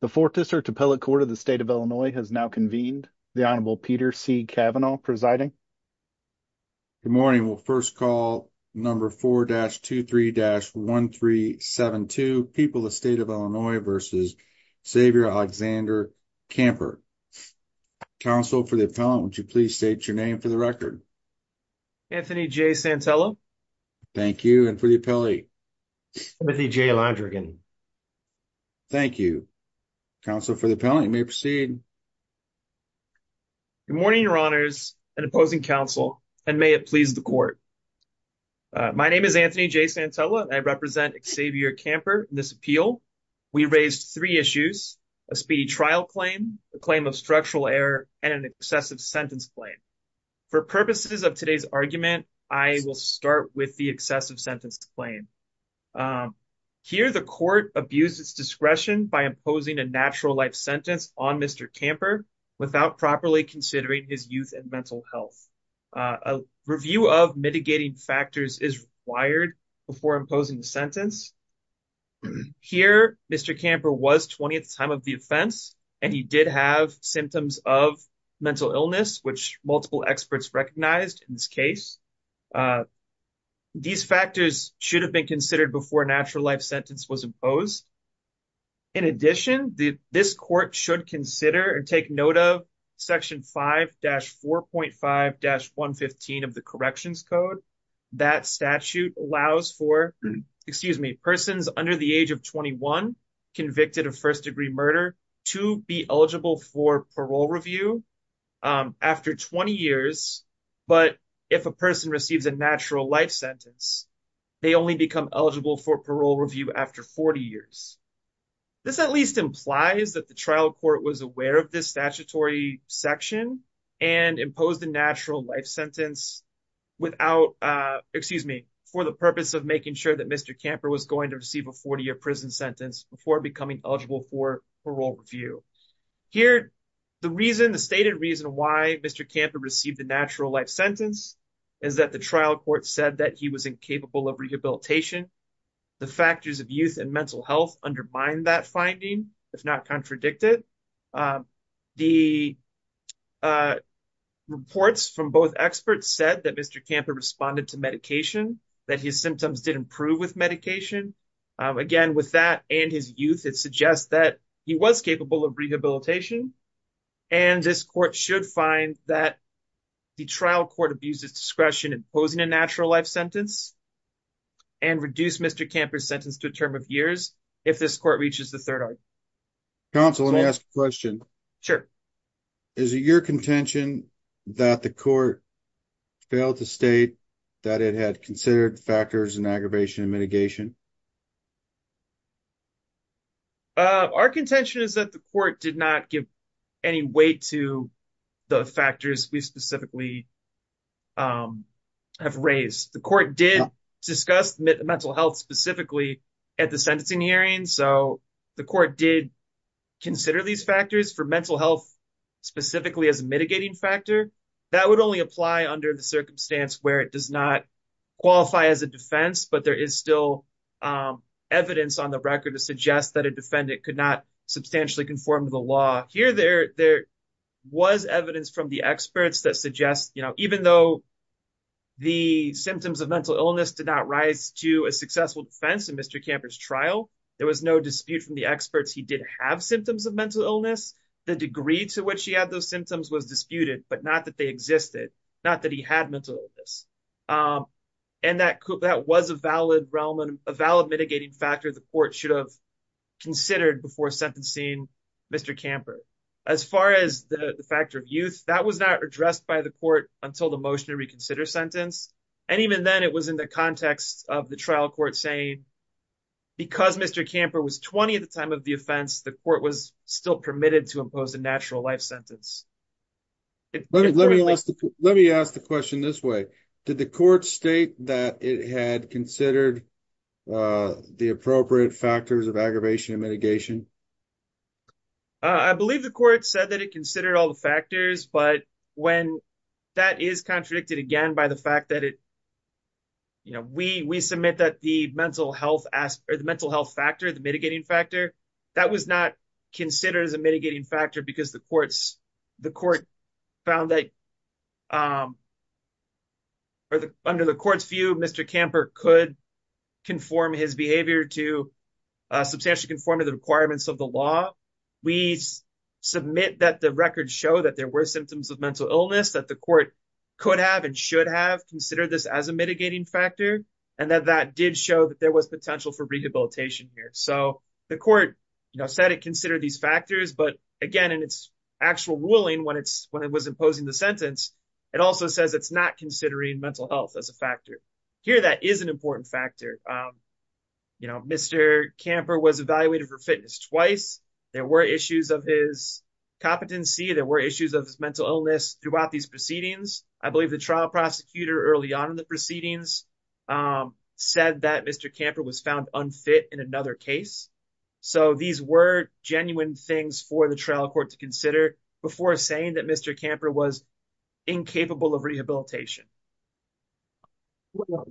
The 4th District Appellate Court of the State of Illinois has now convened. The Honorable Peter C. Cavanaugh presiding. Good morning. We'll first call number 4-23-1372, People of the State of Illinois v. Xavier Alexander Camper. Counsel for the appellant, would you please state your name for the record? Anthony J. Santello. Thank you. And for the appellee? Timothy J. Londrigan. Thank you. Counsel for the appellant, you may proceed. Good morning, your honors and opposing counsel, and may it please the court. My name is Anthony J. Santello and I represent Xavier Camper in this appeal. We raised three issues, a speedy trial claim, a claim of structural error, and an excessive sentence claim. For Here, the court abused its discretion by imposing a natural life sentence on Mr. Camper without properly considering his youth and mental health. A review of mitigating factors is required before imposing the sentence. Here, Mr. Camper was 20th time of the offense and he did have symptoms of mental illness, which multiple experts recognized in this case. These factors should have been considered before a natural life sentence was imposed. In addition, this court should consider and take note of section 5-4.5-115 of the corrections code. That statute allows for, excuse me, persons under the age of 21 convicted of first degree murder to be eligible for parole review after 20 years. But if a person receives a natural life sentence, they only become eligible for parole review after 40 years. This at least implies that the trial court was aware of this statutory section and imposed a natural life sentence without, excuse me, for the purpose of making sure that Mr. Camper was going to receive a 40-year prison sentence before becoming eligible for parole review. Here, the reason, the stated reason why Mr. Camper received a natural life sentence is that the trial court said that he was incapable of rehabilitation. The factors of youth and mental health undermine that finding, if not contradict it. The reports from both experts said that Mr. Camper responded to medication, that his symptoms did improve with medication. Again, with that and his youth, it suggests that he was capable of rehabilitation. And this court should find that the trial court abuses discretion in imposing a natural life sentence and reduce Mr. Camper's sentence to a term of years if this court reaches the third argument. Counsel, let me ask a question. Sure. Is it your contention that the court failed to state that it had considered factors in aggravation and mitigation? Our contention is that the court did not give any weight to the factors we specifically have raised. The court did discuss mental health specifically at the sentencing hearing. So, the court did consider these factors for mental health specifically as a mitigating factor. That would only apply under the circumstance where it does not qualify as a defense, but there is still evidence on the record to suggest that a defendant could not substantially conform to the law. Here, there was evidence from the experts that suggests, you know, even though the symptoms of mental illness did not rise to a successful defense in Mr. Camper's trial, there was no dispute from the experts. He did have symptoms of mental illness. The degree to which he had those symptoms was disputed, but not that they existed, not that he had mental illness. And that was a valid realm and a valid mitigating factor the court should have considered before sentencing Mr. Camper. As far as the factor of youth, that was not addressed by the court until the motion to reconsider sentence. And even then, it was in the context of the trial court saying, because Mr. Camper was 20 at the time of the offense, the court was still permitted to impose a natural life sentence. Let me ask the question this way. Did the court state that it had considered the appropriate factors of aggravation and mitigation? I believe the court said that it considered all the factors, but when that is contradicted again by the fact that it, you know, we submit that the mental health factor, the mitigating factor, that was not considered as a mitigating factor because the court found that under the court's view, Mr. Camper could conform his behavior to substantially conform to the requirements of the law. We submit that the records show that there were symptoms of mental illness that the court could have and should have considered this as a mitigating factor, and that that did show that there was potential for rehabilitation here. So the court, you know, said it considered these factors, but again, in its actual ruling when it was imposing the sentence, it also says it's not considering mental health as a factor. Here, that is an important factor. You know, Mr. Camper was evaluated for fitness twice. There were issues of his competency. There were issues of his mental illness throughout these proceedings. I believe the trial prosecutor early on in the proceedings said that Mr. Camper was found unfit in another case. So these were genuine things for the trial court to consider before saying that Mr. Camper was incapable of rehabilitation.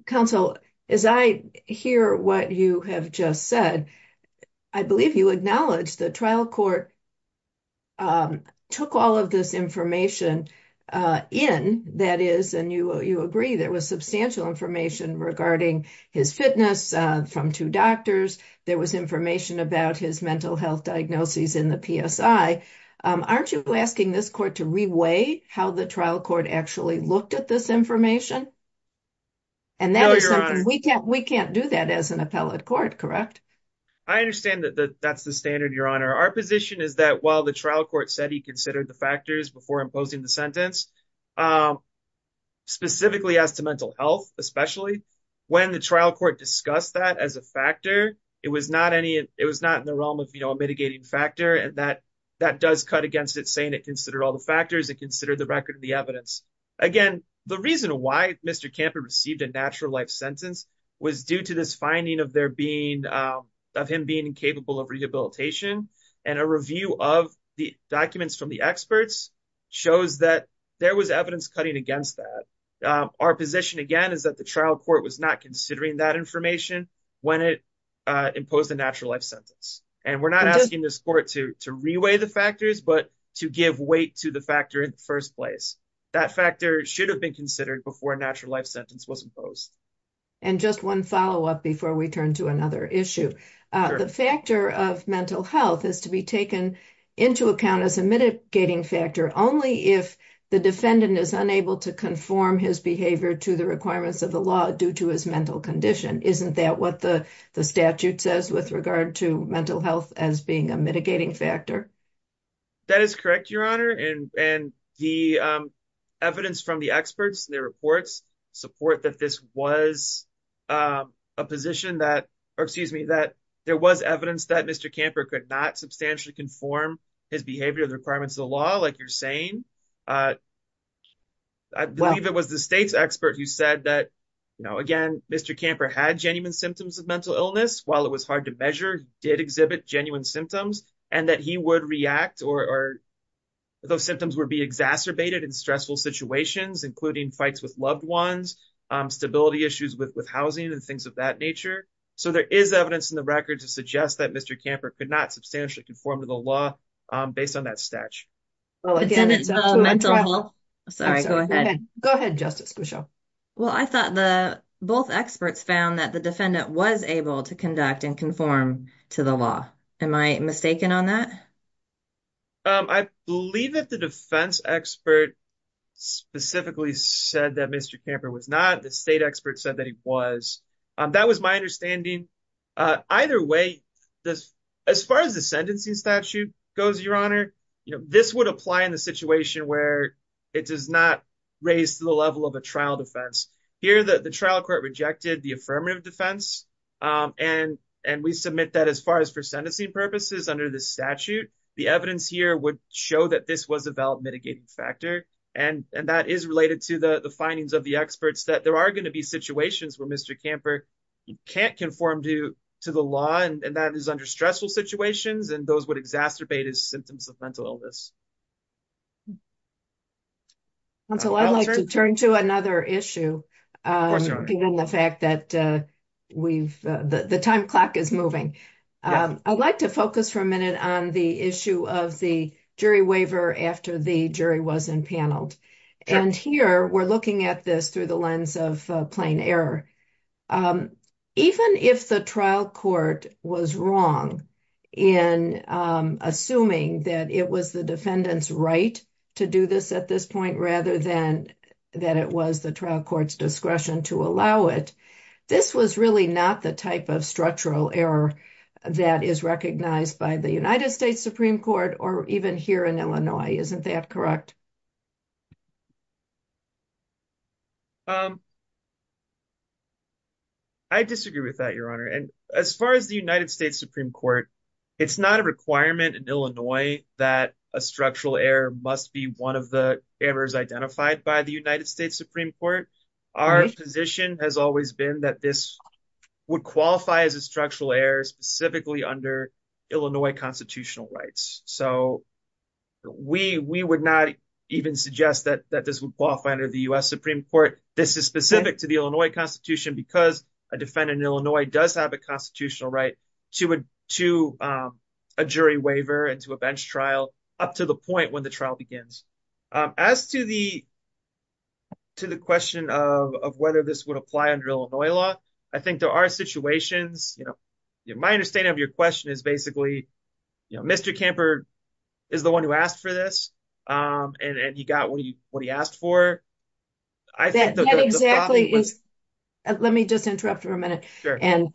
Counsel, as I hear what you have just said, I believe you acknowledge the court took all of this information in, that is, and you agree there was substantial information regarding his fitness from two doctors. There was information about his mental health diagnoses in the PSI. Aren't you asking this court to re-weigh how the trial court actually looked at this information? And that is something we can't do that as an appellate court, correct? I understand that's the standard, Your Honor. Our position is that while the trial court said he considered the factors before imposing the sentence, specifically as to mental health especially, when the trial court discussed that as a factor, it was not in the realm of, you know, a mitigating factor, and that does cut against it saying it considered all the factors and considered the record of the evidence. Again, the reason why Mr. Camper received a natural life sentence was due to this finding of him being incapable of rehabilitation, and a review of the documents from the experts shows that there was evidence cutting against that. Our position, again, is that the trial court was not considering that information when it imposed a natural life sentence, and we're not asking this court to re-weigh the factors but to give weight to the factor in the first place. That factor should have been considered before a natural life sentence was imposed. And just one follow-up before we turn to another issue. The factor of mental health is to be taken into account as a mitigating factor only if the defendant is unable to conform his behavior to the requirements of the law due to his mental condition. Isn't that what the statute says with regard to mental health as being a mitigating factor? That is correct, Your Honor, and the evidence from the experts, their reports, support that this was a position that, or excuse me, that there was evidence that Mr. Camper could not substantially conform his behavior to the requirements of the law, like you're saying. I believe it was the state's expert who said that, you know, again, Mr. Camper had genuine symptoms of mental illness. While it was hard to measure, he did exhibit genuine symptoms, and that he would react, or those symptoms would be exacerbated in stressful situations, including fights with loved ones, stability issues with housing, and things of that nature. So there is evidence in the record to suggest that Mr. Camper could not substantially conform to the law based on that statute. Oh, again, it's mental health. Sorry, go ahead. Go ahead, Justice Grisham. Well, I thought the both experts found that the defendant was able to conduct and conform to the law. Am I mistaken on that? I believe that the defense expert specifically said that Mr. Camper was not. The state expert said that he was. That was my understanding. Either way, as far as the sentencing statute goes, Your Honor, you know, this would apply in the situation where it does not raise to the level of a trial defense. Here, the trial court rejected the affirmative defense, and we submit that as far as for sentencing purposes under this statute, the evidence here would show that this was a valid mitigating factor, and that is related to the findings of the experts, that there are going to be situations where Mr. Camper can't conform to the law, and that is under stressful situations, and those would exacerbate his symptoms of mental illness. Counsel, I'd like to turn to another issue, given the fact that we've, the time clock is moving. I'd like to focus for a minute on the issue of the jury waiver after the jury was impaneled, and here we're looking at this through the lens of plain error. Even if the trial court was wrong in assuming that it was the defendant's right to do this at this point, rather than that it was the trial court's discretion to allow it, this was really not the type of structural error that is recognized by the United States Supreme Court or even here in Illinois. Isn't that correct? I disagree with that, Your Honor, and as far as the United States Supreme Court, it's not a requirement in Illinois that a structural error must be one of the errors identified by the United States Supreme Court. Our position has always been that this would qualify as a structural error specifically under Illinois constitutional rights, so we would not even suggest that this would qualify under the U.S. Supreme Court. This is specific to the Illinois Constitution because a defendant in Illinois does have a constitutional right to a jury waiver and to a bench trial up to the point when the trial begins. As to the question of whether this would apply under Illinois law, I think there are situations, you know, my understanding of your question is basically, you know, Mr. Kamper is the one who asked for this, and he got what he asked for. That exactly is, let me just interrupt for a minute and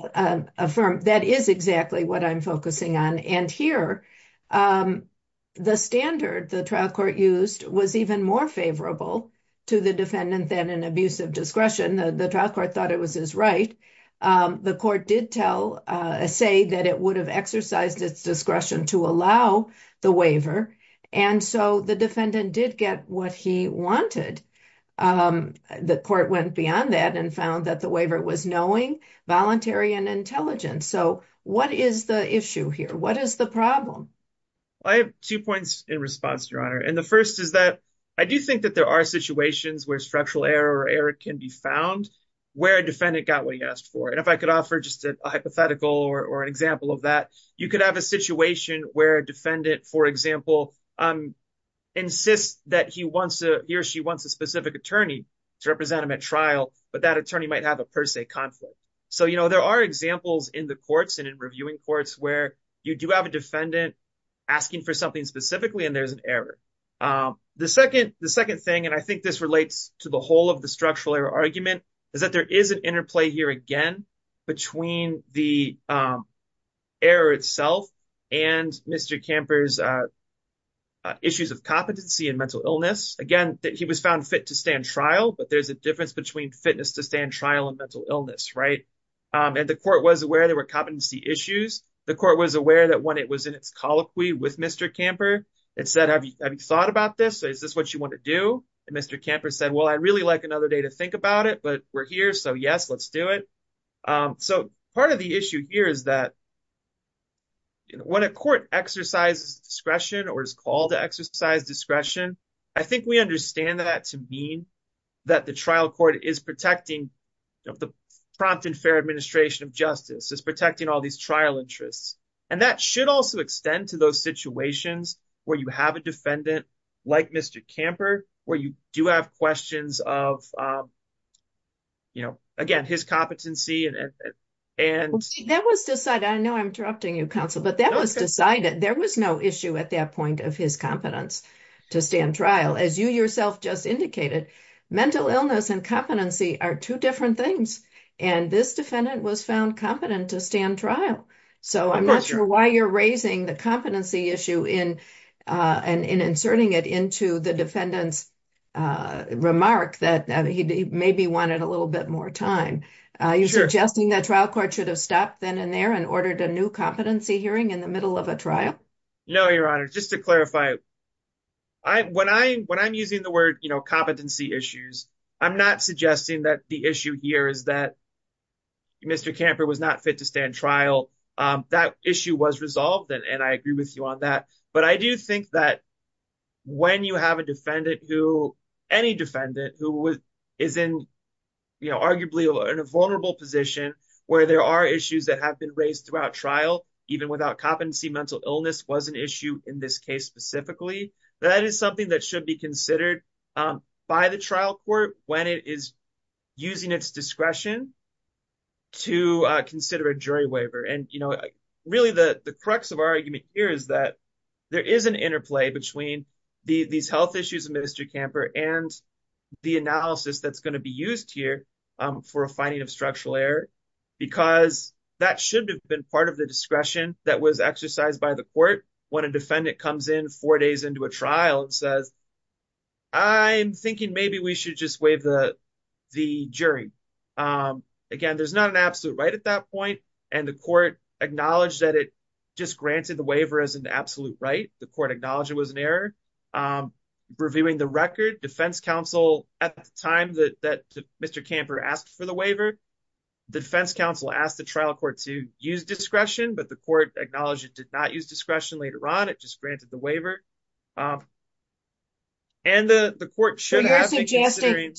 affirm that is exactly what I'm focusing on, and here the standard the trial court used was even more favorable to the defendant than abuse of discretion. The trial court thought it was his right. The court did tell, say that it would have exercised its discretion to allow the waiver, and so the defendant did get what he wanted. The court went beyond that and found that the waiver was knowing, voluntary, and intelligent, so what is the issue here? What is the problem? I have two points in response, Your Honor, and the first is that I do think that there are situations where structural error or error can be found where a defendant got what he asked for, and if I could offer just a hypothetical or an example of that, you could have a situation where a defendant, for example, insists that he wants to, he or she wants a specific attorney to represent him at trial, but that attorney might have a per se conflict. So, you know, there are examples in the courts and in reviewing courts where you do have a defendant asking for something specifically and there's an error. The second thing, and I think this relates to the whole of the structural error argument, is that there is an interplay here again between the error itself and Mr. Camper's issues of competency and mental illness. Again, he was found fit to stand trial, but there's a difference between fitness to stand trial and mental illness, right? And the court was aware there were competency issues. The court was aware that when it was in its colloquy with Mr. Camper, it said, have you thought about this? Is this what you want to do? And Mr. Camper said, well, I'd really like another day to think about it, but we're here, so yes, let's do it. So part of the issue here is that when a court exercises discretion or is called to exercise discretion, I think we understand that to mean that the trial court is protecting the prompt and fair administration of justice, is protecting all these trial interests, and that should also extend to those situations where you have a defendant like Mr. Camper, where you do have questions of, you know, again, his competency. That was decided. I know I'm interrupting you, counsel, but that was decided. There was no issue at that point of his competence to stand trial. As you yourself just indicated, mental illness and competency are two different things, and this defendant was found competent to stand trial. So I'm not sure why you're raising the competency issue and inserting it into the defendant's remark that he maybe wanted a little bit more time. Are you suggesting that trial court should have stopped then and there and ordered a new competency hearing in the middle of a trial? No, Your Honor. Just to clarify, when I'm using the word, you know, competency issues, I'm not suggesting that the issue here is that Mr. Camper was not fit to stand trial. That issue was resolved, and I agree with you on that, but I do think that when you have a defendant who, any defendant who is in, you know, arguably in a vulnerable position where there are issues that have been raised throughout trial, even without competency, mental illness was an issue in this case specifically, that is something that should be considered by the trial court when it is using its discretion to consider a jury waiver. And, you know, really the crux of our argument here is that there is an interplay between these health issues of Mr. Camper and the analysis that's going to be used here for a finding of structural error, because that should have been part of the discretion that was exercised by the court when a defendant comes in four days into a trial and says, I'm thinking maybe we should just waive the jury. Again, there's not an absolute right at that point, and the court acknowledged that it just granted the waiver as an absolute right. The court acknowledged it was an error. Reviewing the record, defense counsel at the time that Mr. Camper asked for the waiver, the defense counsel asked the trial court to use discretion, but the court acknowledged it did not use discretion later on. It just granted the waiver. And the court should have been considering.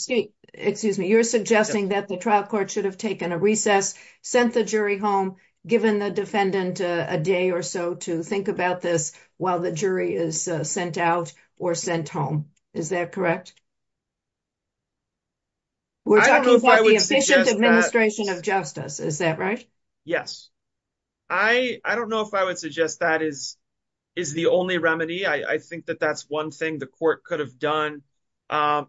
Excuse me, you're suggesting that the trial court should have taken a recess, sent the jury home, given the defendant a day or so to think about this while the jury is sent out or sent home. Is that correct? We're talking about the efficient administration of justice. Is that right? Yes. I don't know if I would suggest that is the only remedy. I think that that's one thing the court could have done.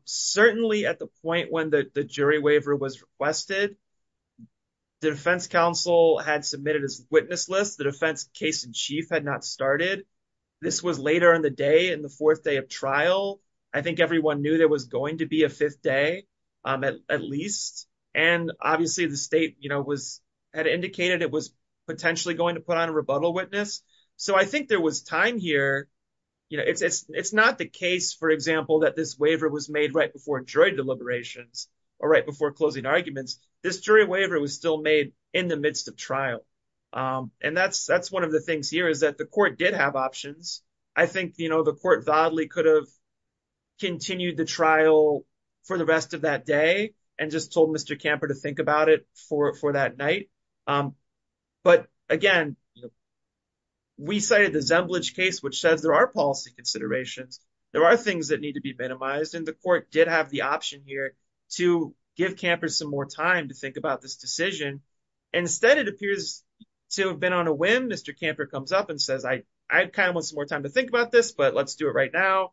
Certainly at the point when the jury waiver was requested, the defense counsel had submitted his witness list. The defense case in chief had not started. This was later in the day, the fourth day of trial. I think everyone knew there was going to be a fifth day, at least. And obviously the state had indicated it was potentially going to put on a rebuttal witness. So I think there was time here. It's not the case, for example, that this waiver was made right before jury deliberations or right before closing arguments. This jury waiver was still made in the midst of trial. And that's one of the things here is that the court did have options. I think the court could have continued the trial for the rest of that day and just told Mr. Camper to think about it for that night. But again, we cited the Zemblich case, which says there are policy considerations. There are things that need to be minimized. And the court did have the option here to give campers some more time to think about this decision. Instead, it appears to have been on a whim. Mr. Camper comes up and says, I kind of want some more time to think about this, but let's do it right now.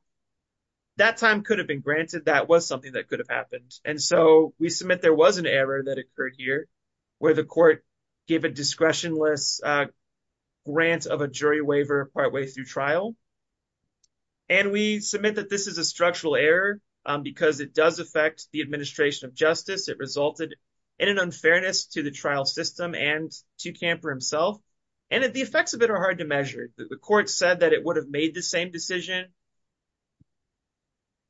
That time could have been granted. That was something that could have happened. And so we submit there was an error that occurred here where the court gave a discretionless grant of a jury waiver partway through trial. And we submit that this is a structural error because it does affect the administration of justice. It resulted in an unfairness to the trial system and to Camper himself. And the effects of it are hard to measure. The court said that it would have made the same decision.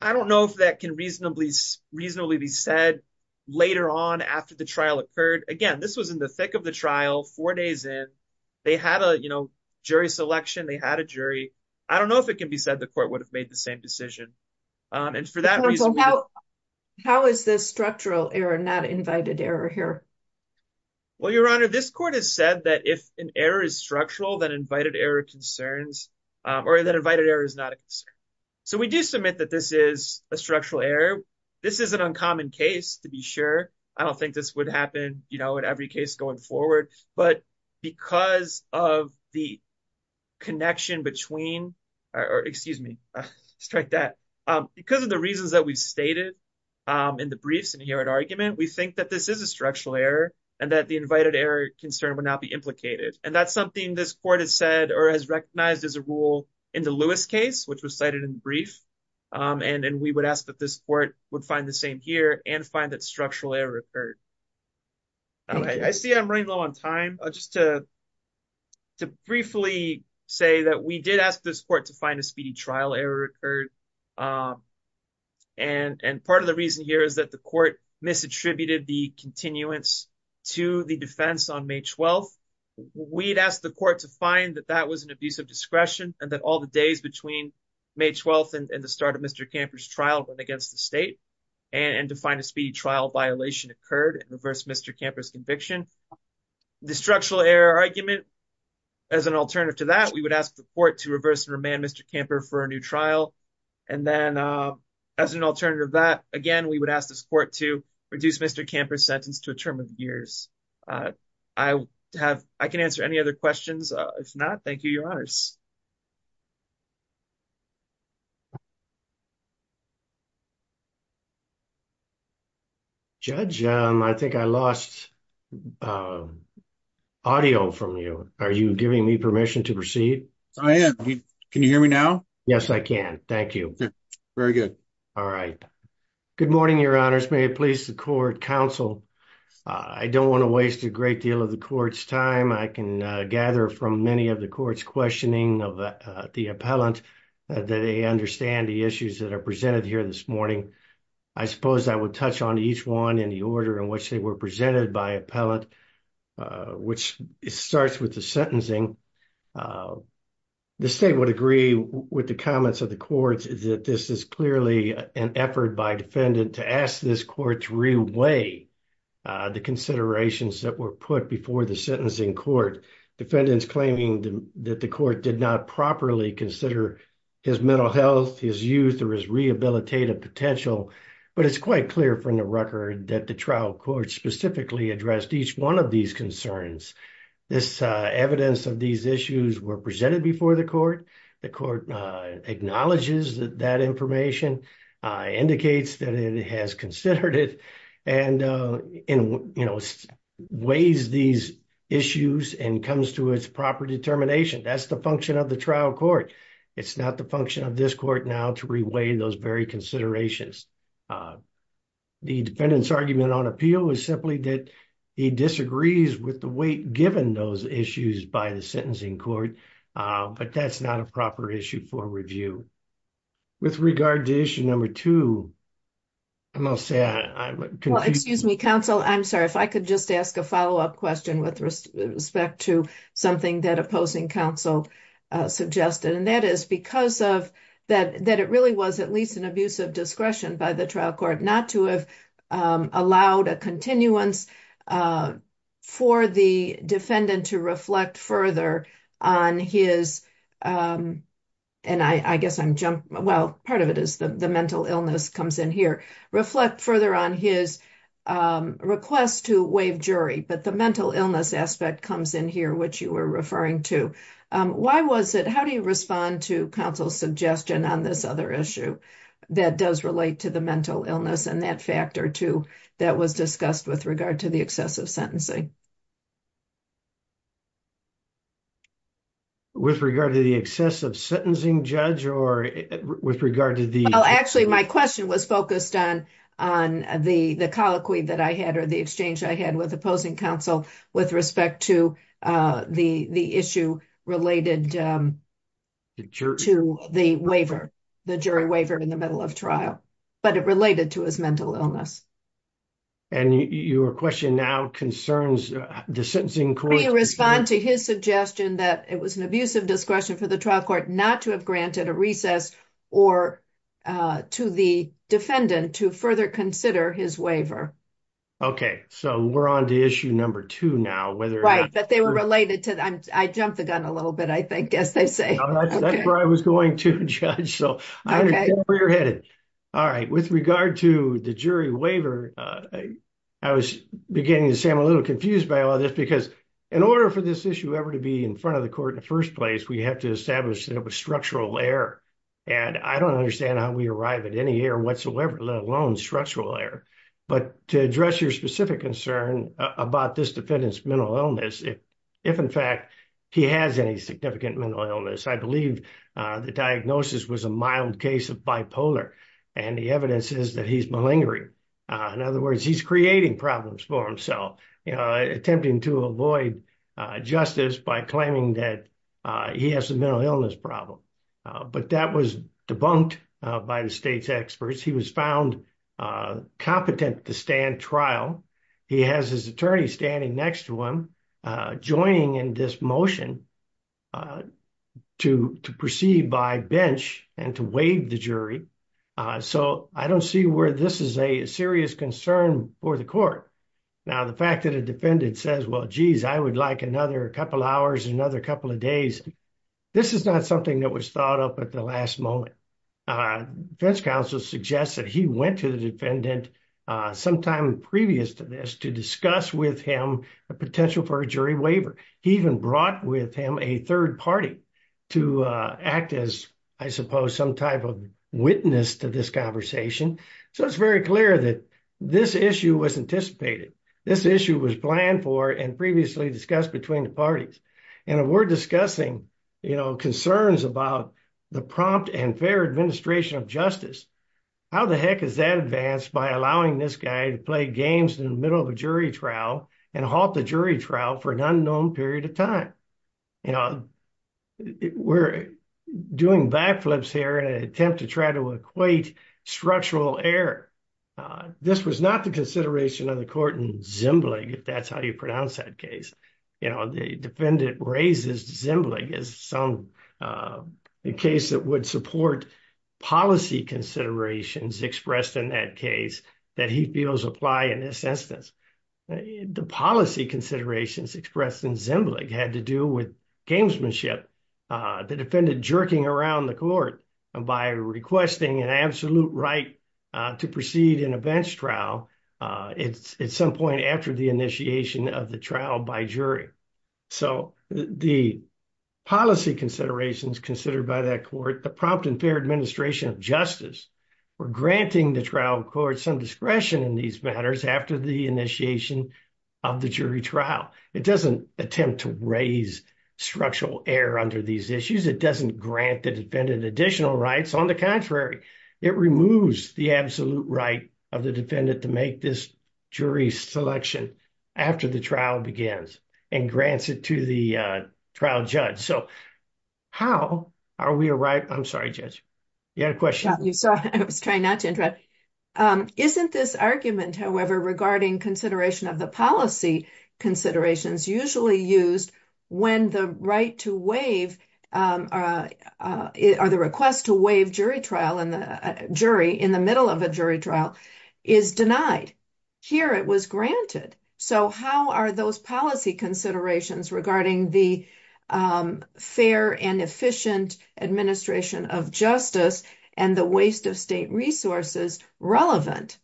I don't know if that can reasonably be said later on after the trial occurred. Again, this was in the thick of the trial four days in. They had a jury selection. They had a jury. I don't know if it can be said the court would have made the same decision. And for that reason, how is this structural error not invited error here? Well, Your Honor, this court has said that if an error is structural, that invited error concerns or that invited error is not a concern. So we do submit that this is a structural error. This is an uncommon case to be sure. I don't think this would happen in every case going forward. But because of the connection between or excuse me, strike that because of the reasons that we've stated in the briefs and here at argument, we think that this is a structural error and that the invited error concern would not be implicated. And that's something this court has said or has recognized as a rule in the Lewis case, which was cited in the brief. And we would ask that this court would find the same here and find that structural error occurred. I see I'm running low on time just to. To briefly say that we did ask this court to find a speedy trial error occurred. And part of the reason here is that the court misattributed the continuance to the defense on May 12th. We'd asked the court to find that that was an abuse of discretion and that all the days between May 12th and the start of Mr. Camper's trial went against the state and to find a speedy trial violation occurred and reverse Mr. Camper's conviction. The structural error argument as an alternative to that, we would ask the court to reverse and remand Mr. Camper for a new trial. And then as an alternative that again, we would ask this court to reduce Mr. Camper's sentence to a term of years. I have I can answer any other questions. If not, thank you, your honors. Judge, I think I lost audio from you. Are you giving me permission to proceed? I am. Can you hear me now? Yes, I can. Thank you. Very good. All right. Good morning, your honors. May it please the court counsel. I don't want to waste a great deal of the court's time. I can gather from many of the court's questioning of the appellant that they understand the issues that are presented here this morning. I suppose I would touch on each one in the order in which they were presented by appellant, which starts with the sentencing. The state would agree with the comments of the courts that this is clearly an effort by defendant to ask this court to reweigh the considerations that were put before the sentencing court. Defendants claiming that the court did not properly consider his mental record that the trial court specifically addressed each one of these concerns. This evidence of these issues were presented before the court. The court acknowledges that information, indicates that it has considered it, and weighs these issues and comes to its proper determination. That's the function of the trial court. It's not the function of this court now to reweigh those very considerations. The defendant's argument on appeal is simply that he disagrees with the weight given those issues by the sentencing court, but that's not a proper issue for review. With regard to issue number two, I must say I'm confused. Excuse me counsel, I'm sorry if I could just ask a follow-up question with respect to something that opposing counsel suggested, and that is because of that it really was at least an abuse of discretion by the trial court not to have allowed a continuance for the defendant to reflect further on his, and I guess I'm jumping, well part of it is the mental illness comes in here, reflect further on his request to waive jury, but the mental illness aspect comes in here which you were referring to. Why was it, how do you respond to counsel's suggestion on this other issue that does relate to the mental illness and that factor too that was discussed with regard to the excessive sentencing? With regard to the excessive sentencing judge, or with regard to the, well actually my question was focused on the colloquy that I had or the exchange I had with opposing counsel with respect to the issue related to the waiver, the jury waiver in the middle of trial, but it related to his mental illness. And your question now concerns the sentencing court. Will you respond to his suggestion that it was an abuse of discretion for the trial court not to have granted a recess or to the defendant to further consider his waiver? Okay, so we're on issue number two now. Right, but they were related to, I jumped the gun a little bit I think, as they say. That's where I was going to judge, so I understand where you're headed. All right, with regard to the jury waiver, I was beginning to say I'm a little confused by all this because in order for this issue ever to be in front of the court in the first place, we have to establish that it was structural error, and I don't understand how we arrive at any error whatsoever, let alone structural error. But to address your specific concern about this defendant's mental illness, if in fact he has any significant mental illness, I believe the diagnosis was a mild case of bipolar, and the evidence is that he's malingering. In other words, he's creating problems for himself, you know, attempting to avoid justice by claiming that he has a mental problem. But that was debunked by the state's experts. He was found competent to stand trial. He has his attorney standing next to him, joining in this motion to proceed by bench and to waive the jury. So I don't see where this is a serious concern for the court. Now, the fact that a defendant says, well, geez, I would like another couple hours, another couple of days. This is not something that was thought of at the last moment. Defense counsel suggests that he went to the defendant sometime previous to this to discuss with him a potential for a jury waiver. He even brought with him a third party to act as, I suppose, some type of witness to this conversation. So it's very clear that this issue was anticipated. This issue was planned for and previously discussed between the parties. And if we're discussing, you know, concerns about the prompt and fair administration of justice, how the heck is that advanced by allowing this guy to play games in the middle of a jury trial and halt the jury trial for an unknown period of time? You know, we're doing backflips here in an attempt to try to equate structural error. This was not the consideration of the court in Zimbelig, if that's how you pronounce that case. You know, the defendant raises Zimbelig as some case that would support policy considerations expressed in that case that he feels apply in this instance. The policy considerations expressed in Zimbelig had to do with gamesmanship. The defendant jerking around the court by requesting an absolute right to proceed in a bench trial at some point after the initiation of the trial by jury. So the policy considerations considered by that court, the prompt and fair administration of justice, were granting the trial court some discretion in these matters after the initiation of the jury trial. It doesn't attempt to raise structural error under these issues. It doesn't grant the defendant additional rights. On the contrary, it removes the absolute right of the defendant to make this jury selection after the trial begins and grants it to the trial judge. So how are we a right? I'm sorry, Judge, you had a question. Yeah, I was trying not to interrupt. Isn't this argument, however, regarding consideration of the considerations usually used when the right to waive or the request to waive jury trial in the jury in the middle of a jury trial is denied? Here it was granted. So how are those policy considerations regarding the fair and efficient administration of justice and the waste of state relevant?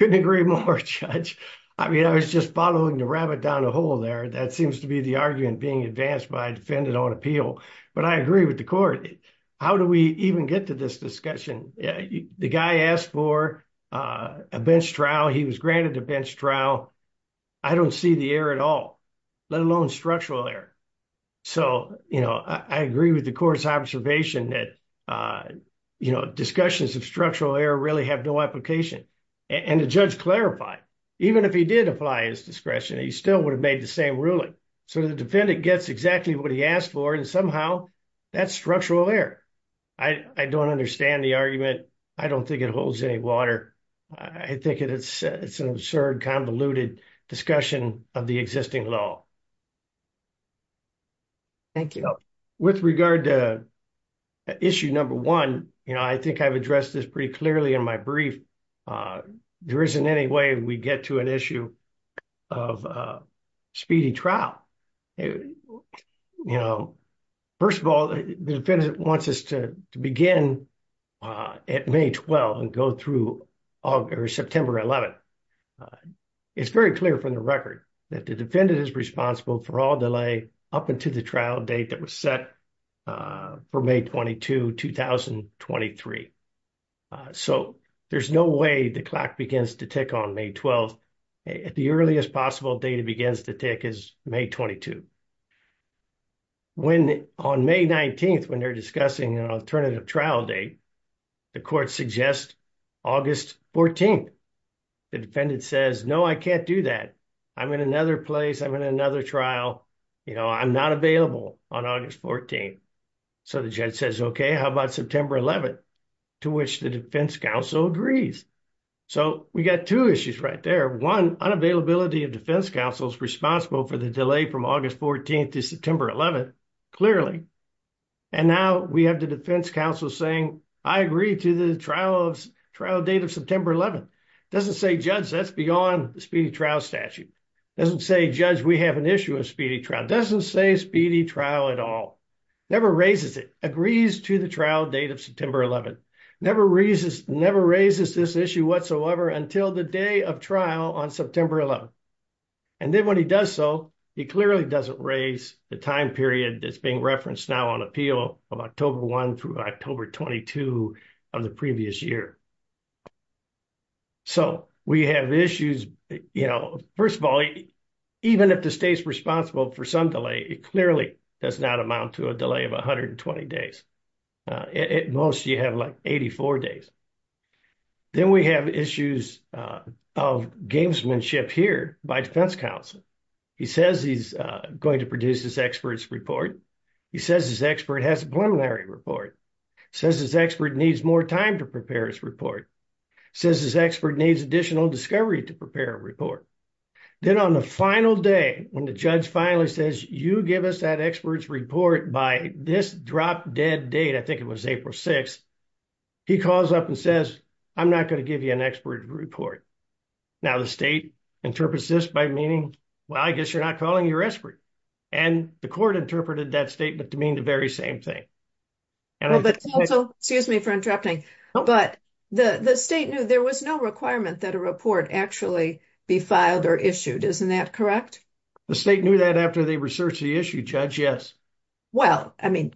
I couldn't agree more, Judge. I mean, I was just following the rabbit down a hole there. That seems to be the argument being advanced by defendant on appeal. But I agree with the court. How do we even get to this discussion? The guy asked for a bench trial. He was granted a bench trial. I don't see the error at all, let alone structural error. So I agree with the court's observation that discussions of structural error really have no application. And the judge clarified, even if he did apply his discretion, he still would have made the same ruling. So the defendant gets exactly what he asked for. And somehow that's structural error. I don't understand the argument. I don't think it holds any water. I think it's an absurd, convoluted discussion of existing law. Thank you. With regard to issue number one, I think I've addressed this pretty clearly in my brief. There isn't any way we get to an issue of speedy trial. First of all, the defendant wants us to begin at May 12 and go through September 11. It's very clear from the defendant is responsible for all delay up until the trial date that was set for May 22, 2023. So there's no way the clock begins to tick on May 12th. The earliest possible date it begins to tick is May 22. On May 19th, when they're discussing an alternative trial date, the court suggests August 14th. The defendant says, no, I can't do that. I'm in another place. I'm in another trial. You know, I'm not available on August 14th. So the judge says, okay, how about September 11th, to which the defense counsel agrees. So we got two issues right there. One, unavailability of defense counsel's responsible for the delay from August 14th to September 11th, clearly. And now we have the defense counsel saying, I agree to the trial date of September 11th. Doesn't say, judge, that's beyond the speedy trial statute. Doesn't say, judge, we have an issue of speedy trial. Doesn't say speedy trial at all. Never raises it. Agrees to the trial date of September 11th. Never raises this issue whatsoever until the day of trial on September 11th. And then when he does so, he clearly doesn't raise the time period that's being referenced now on October 1 through October 22 of the previous year. So we have issues, you know, first of all, even if the state's responsible for some delay, it clearly does not amount to a delay of 120 days. At most you have like 84 days. Then we have issues of gamesmanship here by defense counsel. He says he's going to produce this expert's report. He says his expert has a preliminary report. Says his expert needs more time to prepare his report. Says his expert needs additional discovery to prepare a report. Then on the final day, when the judge finally says, you give us that expert's report by this drop dead date, I think it was April 6th, he calls up and says, I'm not going to give you an expert report. Now the state interprets this by meaning, well, I guess you're not calling your expert. And the court interpreted that statement to mean the very same thing. Excuse me for interrupting, but the state knew there was no requirement that a report actually be filed or issued. Isn't that correct? The state knew that after they researched the issue judge. Yes. Well, I mean,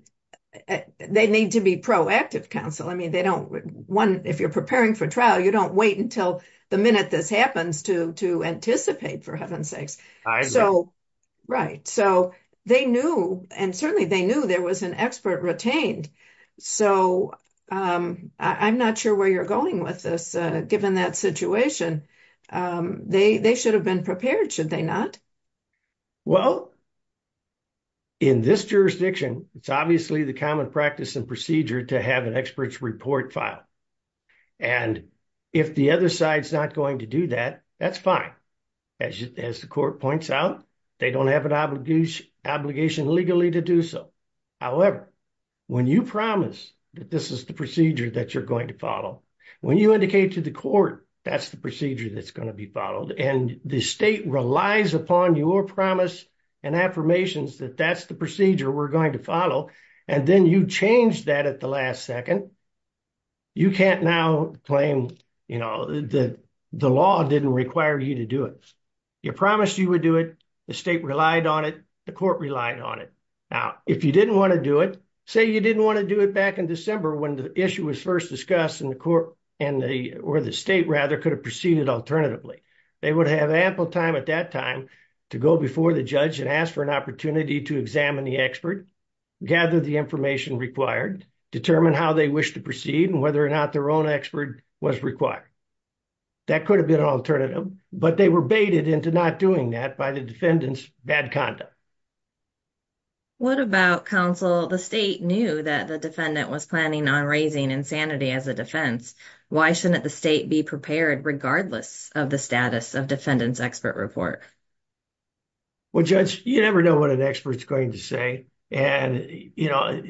they need to be proactive counsel. I mean, they don't want, if you're preparing for trial, you don't wait until the minute this happens to anticipate for heaven's sakes. Right. So they knew, and certainly they knew there was an expert retained. So I'm not sure where you're going with this, given that situation. They should have been prepared, should they not? Well, in this jurisdiction, it's obviously the common practice and procedure to have an expert's report file. And if the other side's not going to do that, that's fine. As the court points out, they don't have an obligation legally to do so. However, when you promise that this is the procedure that you're going to follow, when you indicate to the court, that's the procedure that's going to be followed. And the state relies upon your promise and affirmations that that's the procedure. You can't now claim, you know, that the law didn't require you to do it. You promised you would do it. The state relied on it. The court relied on it. Now, if you didn't want to do it, say you didn't want to do it back in December when the issue was first discussed in the court and the, or the state rather could have proceeded alternatively. They would have ample time at that time to go before the judge and ask for an opportunity to examine the expert, gather the information required, determine how they wish to proceed and whether or not their own expert was required. That could have been an alternative, but they were baited into not doing that by the defendant's bad conduct. What about counsel? The state knew that the defendant was planning on raising insanity as a defense. Why shouldn't the state be prepared regardless of the status of defendant's expert report? Well, judge, you never know what an expert's going to say. And, you know,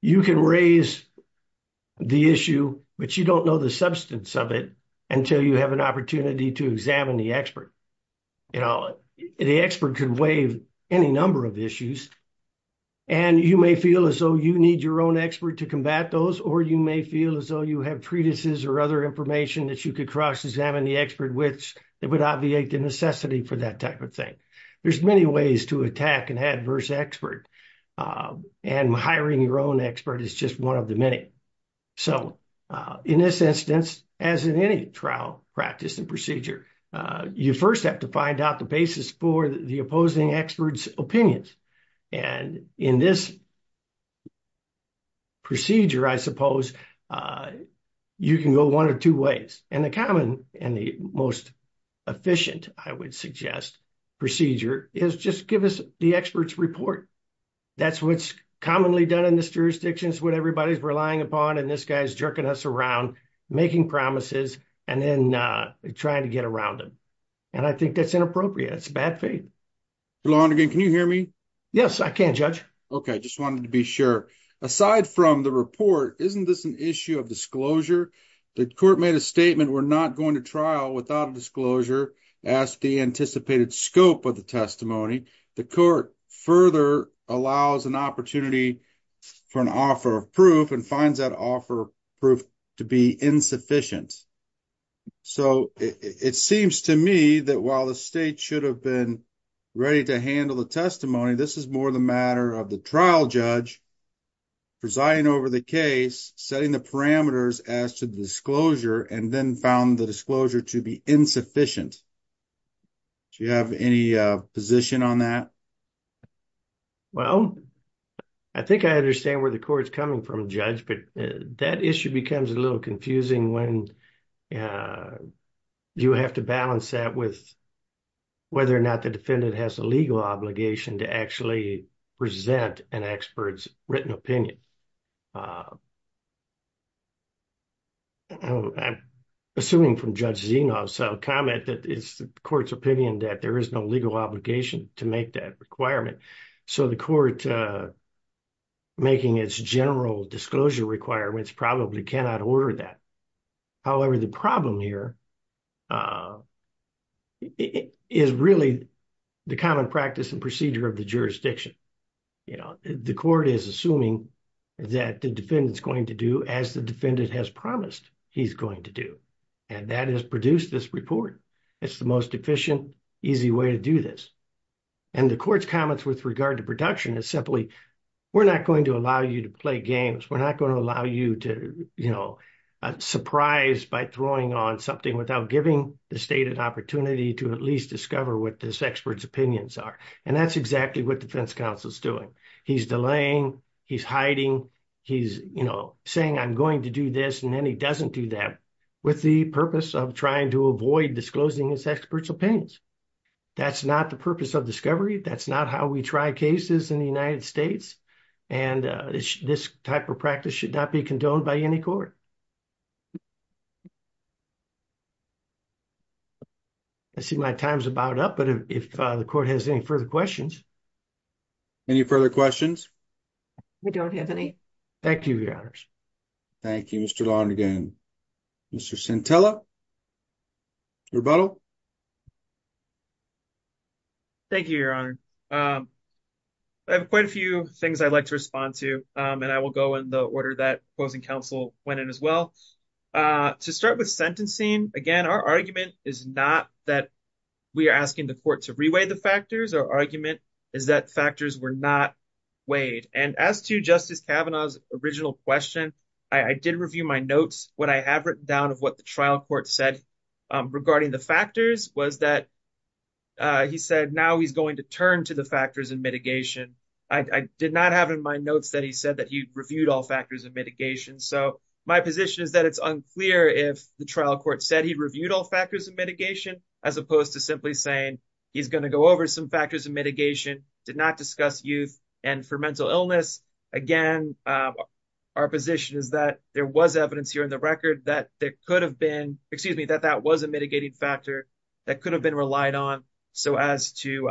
you can raise the issue, but you don't know the substance of it until you have an opportunity to examine the expert. You know, the expert can waive any number of issues. And you may feel as though you need your own expert to combat those, or you may feel as though you have treatises or other information that you could cross-examine the expert with that would obviate the necessity for that type of thing. There's many ways to attack an adverse expert, and hiring your own expert is just one of the many. So, in this instance, as in any trial practice and procedure, you first have to find out the basis for the opposing expert's opinions. And in this procedure, I suppose, you can go one or two ways. And the most common and the most efficient, I would suggest, procedure is just give us the expert's report. That's what's commonly done in this jurisdiction. It's what everybody's relying upon, and this guy's jerking us around, making promises, and then trying to get around them. And I think that's inappropriate. It's bad faith. Mr. Lonergan, can you hear me? Yes, I can, judge. Okay, I just wanted to be sure. Aside from the report, isn't this an issue of disclosure? The court made a statement we're not going to trial without a disclosure as the anticipated scope of the testimony. The court further allows an opportunity for an offer of proof and finds that offer of proof to be insufficient. So, it seems to me that while the state should have been ready to handle the testimony, this is more the matter of the trial judge presiding over the case, setting the parameters as to the disclosure, and then found the disclosure to be insufficient. Do you have any position on that? Well, I think I understand where the court's coming from, judge, but that issue becomes a little confusing when you have to balance that with whether or not the defendant has a legal obligation to actually present an expert's written opinion. I'm assuming from Judge Zenov's comment that it's the court's opinion that there is no legal obligation to make that requirement. So, the court making its general disclosure requirements probably cannot order that. However, the problem here is really the common practice and procedure of the jurisdiction. The court is assuming that the defendant's going to do as the defendant has promised he's going to do, and that is produce this report. It's the most efficient, easy way to do this. And the court's comments with regard to production is simply, we're not going to allow you to play without giving the state an opportunity to at least discover what this expert's opinions are. And that's exactly what defense counsel is doing. He's delaying, he's hiding, he's, you know, saying I'm going to do this, and then he doesn't do that with the purpose of trying to avoid disclosing his expert's opinions. That's not the purpose of discovery. That's not how we try cases in the United States. And this type of practice should not be condoned by any court. I see my time's about up, but if the court has any further questions. Any further questions? We don't have any. Thank you, Your Honors. Thank you, Mr. Lonergan. Mr. Centella? Rebuttal? Thank you, Your Honor. I have quite a few things I'd like to respond to, and I will go in the order that opposing counsel went in as well. To start with sentencing, again, our argument is not that we are asking the court to reweigh the factors. Our argument is that factors were not weighed. And as to Justice Kavanaugh's original question, I did review my notes. What I have written down of what the trial court said regarding the factors was that he said now he's going to the factors of mitigation. I did not have in my notes that he said that he reviewed all factors of mitigation. So my position is that it's unclear if the trial court said he reviewed all factors of mitigation, as opposed to simply saying he's going to go over some factors of mitigation, did not discuss youth, and for mental illness. Again, our position is that there was evidence here in the record that there could have been, excuse me, that that was a mitigating factor that could have been relied on so as to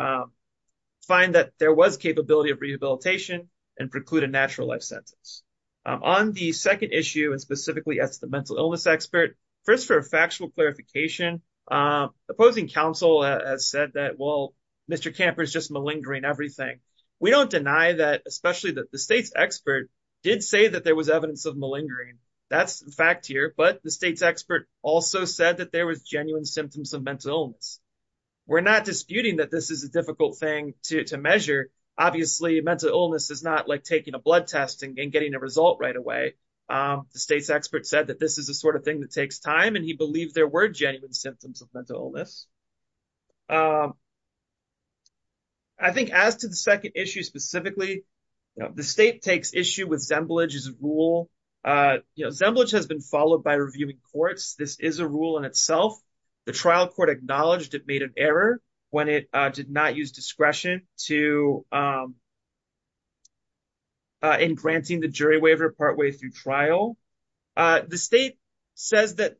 find that there was capability of rehabilitation and preclude a natural life sentence. On the second issue, and specifically as the mental illness expert, first for a factual clarification, opposing counsel has said that, well, Mr. Kamper is just malingering everything. We don't deny that, especially that the state's expert did say that there was evidence of malingering. That's a fact here. But the state's expert also said that there was genuine symptoms of mental illness. We're not disputing that this is a difficult thing to measure. Obviously, mental illness is not like taking a blood test and getting a result right away. The state's expert said that this is the sort of thing that takes time, and he believed there were genuine symptoms of mental illness. I think as to the second issue, specifically, the state takes issue with Zembelich's rule. Zembelich has been followed by reviewing courts. This is a rule in itself. The trial court acknowledged it made an error when it did not use discretion in granting the jury waiver partway through trial. The state says that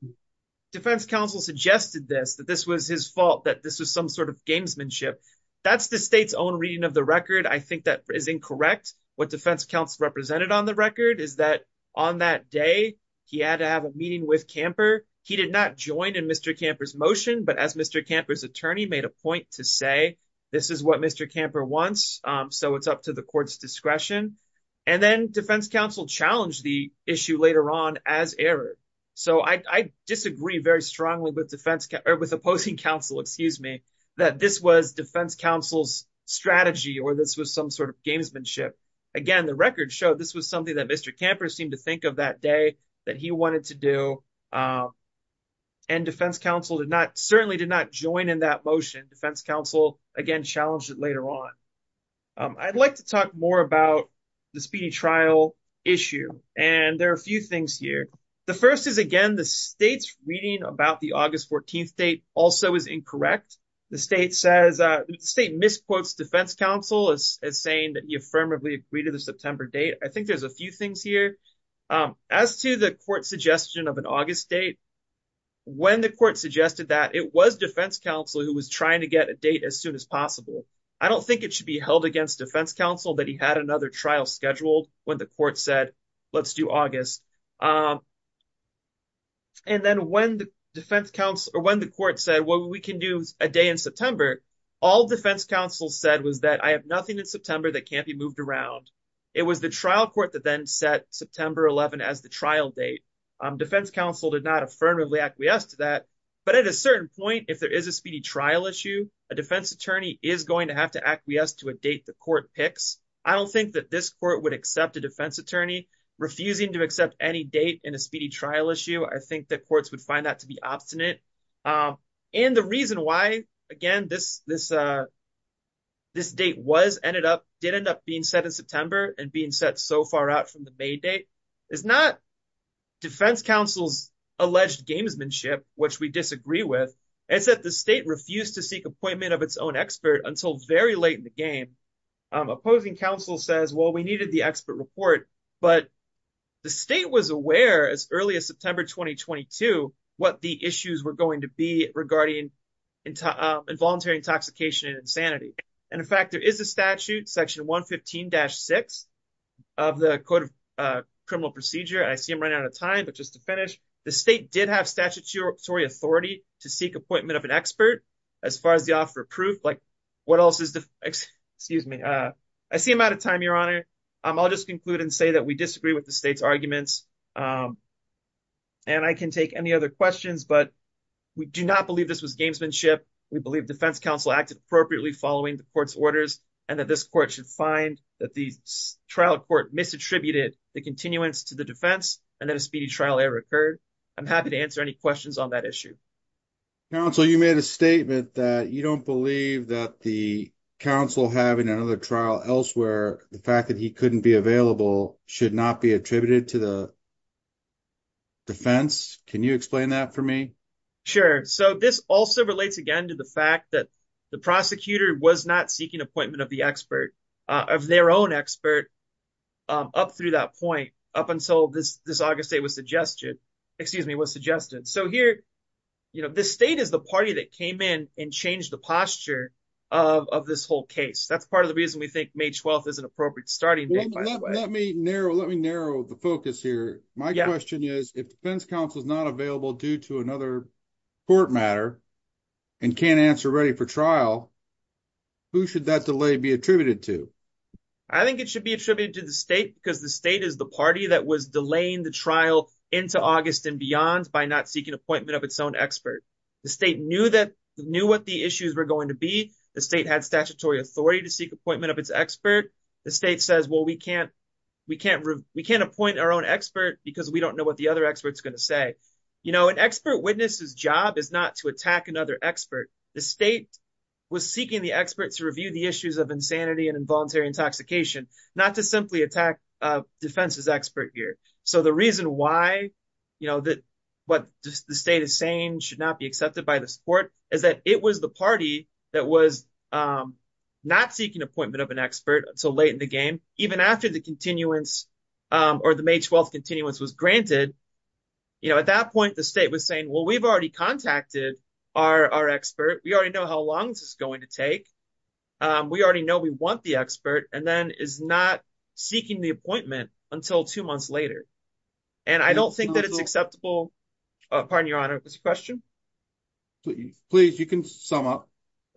defense counsel suggested this, that this was his fault, that this was some sort of gamesmanship. That's the state's own reading of the record. I think that is incorrect. What defense counsel represented on the record is that on that day, he had to have a meeting with Kamper. He did not join in Mr. Kamper's motion, but as Mr. Kamper's attorney made a point to say, this is what Mr. Kamper wants, so it's up to the court's discretion. Then defense counsel challenged the issue later on as error. I disagree very strongly with opposing counsel that this was defense counsel's strategy, or this was some sort of gamesmanship. Again, the record showed this was something that Mr. Kamper seemed to think of that day that he wanted to do, and defense counsel certainly did not join in that motion. Defense counsel, again, challenged it later on. I'd like to talk more about the speedy trial issue, and there are a few things here. The first is, again, the state's reading about the August 14th also is incorrect. The state misquotes defense counsel as saying that he affirmatively agreed to the September date. I think there's a few things here. As to the court's suggestion of an August date, when the court suggested that, it was defense counsel who was trying to get a date as soon as possible. I don't think it should be held against defense counsel that he had another trial scheduled when the court said, let's do August. Then when the court said, well, we can do a day in September, all defense counsel said was that I have nothing in September that can't be moved around. It was the trial court that then set September 11 as the trial date. Defense counsel did not affirmatively acquiesce to that, but at a certain point, if there is a speedy trial issue, a defense attorney is going to have to acquiesce to a date the court picks. I don't think that this court would accept a defense attorney refusing to accept any date in a speedy trial issue. I think that courts would find that to be obstinate. The reason why, again, this date did end up being set in September and being set so far out from the May date is not defense counsel's alleged gamesmanship, which we disagree with. It's that the state refused to seek appointment of its own expert until very late in the game. Opposing counsel says, well, we needed the expert report, but the state was aware as early as September 2022 what the issues were going to be regarding involuntary intoxication and insanity. In fact, there is a statute, section 115-6 of the Code of Criminal Procedure. I see I'm running out of time, Your Honor. I'll just conclude and say that we disagree with the state's arguments. I can take any other questions, but we do not believe this was gamesmanship. We believe defense counsel acted appropriately following the court's orders and that this court should find that the trial court misattributed the continuance to the defense and that a speedy on that issue. Counsel, you made a statement that you don't believe that the counsel having another trial elsewhere, the fact that he couldn't be available should not be attributed to the defense. Can you explain that for me? Sure. This also relates again to the fact that the prosecutor was not seeking appointment of the expert, of their own expert, up through that point up until this August date was suggested. Excuse me, was suggested. So here, you know, the state is the party that came in and changed the posture of this whole case. That's part of the reason we think May 12th is an appropriate starting date. Let me narrow the focus here. My question is, if the defense counsel is not available due to another court matter and can't answer ready for trial, who should that delay be attributed to? I think it should be to the state because the state is the party that was delaying the trial into August and beyond by not seeking appointment of its own expert. The state knew that, knew what the issues were going to be. The state had statutory authority to seek appointment of its expert. The state says, well, we can't, we can't, we can't appoint our own expert because we don't know what the other expert's going to say. You know, an expert witness's job is not to attack another expert. The state was seeking the experts to review the issues of insanity and involuntary intoxication, not to simply attack a defense's expert here. So the reason why, you know, that what the state is saying should not be accepted by the support is that it was the party that was not seeking appointment of an expert until late in the game, even after the continuance or the May 12th continuance was granted. You know, at that point, the state was saying, well, we've already contacted our expert. We already know how long this is going to take. We already know we want the expert. And is not seeking the appointment until two months later. And I don't think that it's acceptable. Pardon your honor, is there a question? Please, you can sum up.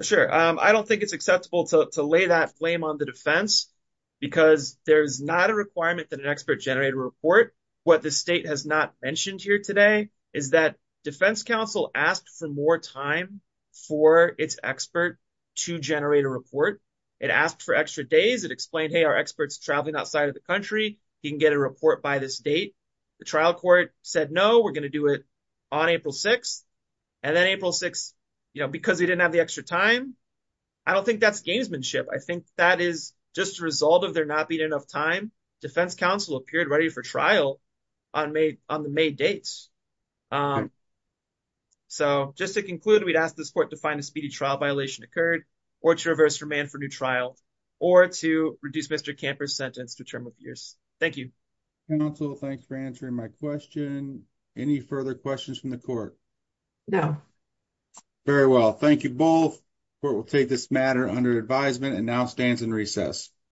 Sure. I don't think it's acceptable to lay that flame on the defense because there's not a requirement that an expert generate a report. What the state has not mentioned here today is that defense counsel asked for more time for its expert to generate a report. It asked for extra days. It our experts traveling outside of the country. He can get a report by this date. The trial court said, no, we're going to do it on April 6th. And then April 6th, you know, because he didn't have the extra time. I don't think that's gamesmanship. I think that is just a result of there not being enough time. Defense counsel appeared ready for trial on May on the May dates. So just to conclude, we'd ask this court to find a speedy trial violation occurred or to reverse remand for new or to reduce Mr. Camper's sentence to term of years. Thank you. Counsel, thanks for answering my question. Any further questions from the court? No. Very well. Thank you both. Court will take this matter under advisement and now stands in recess.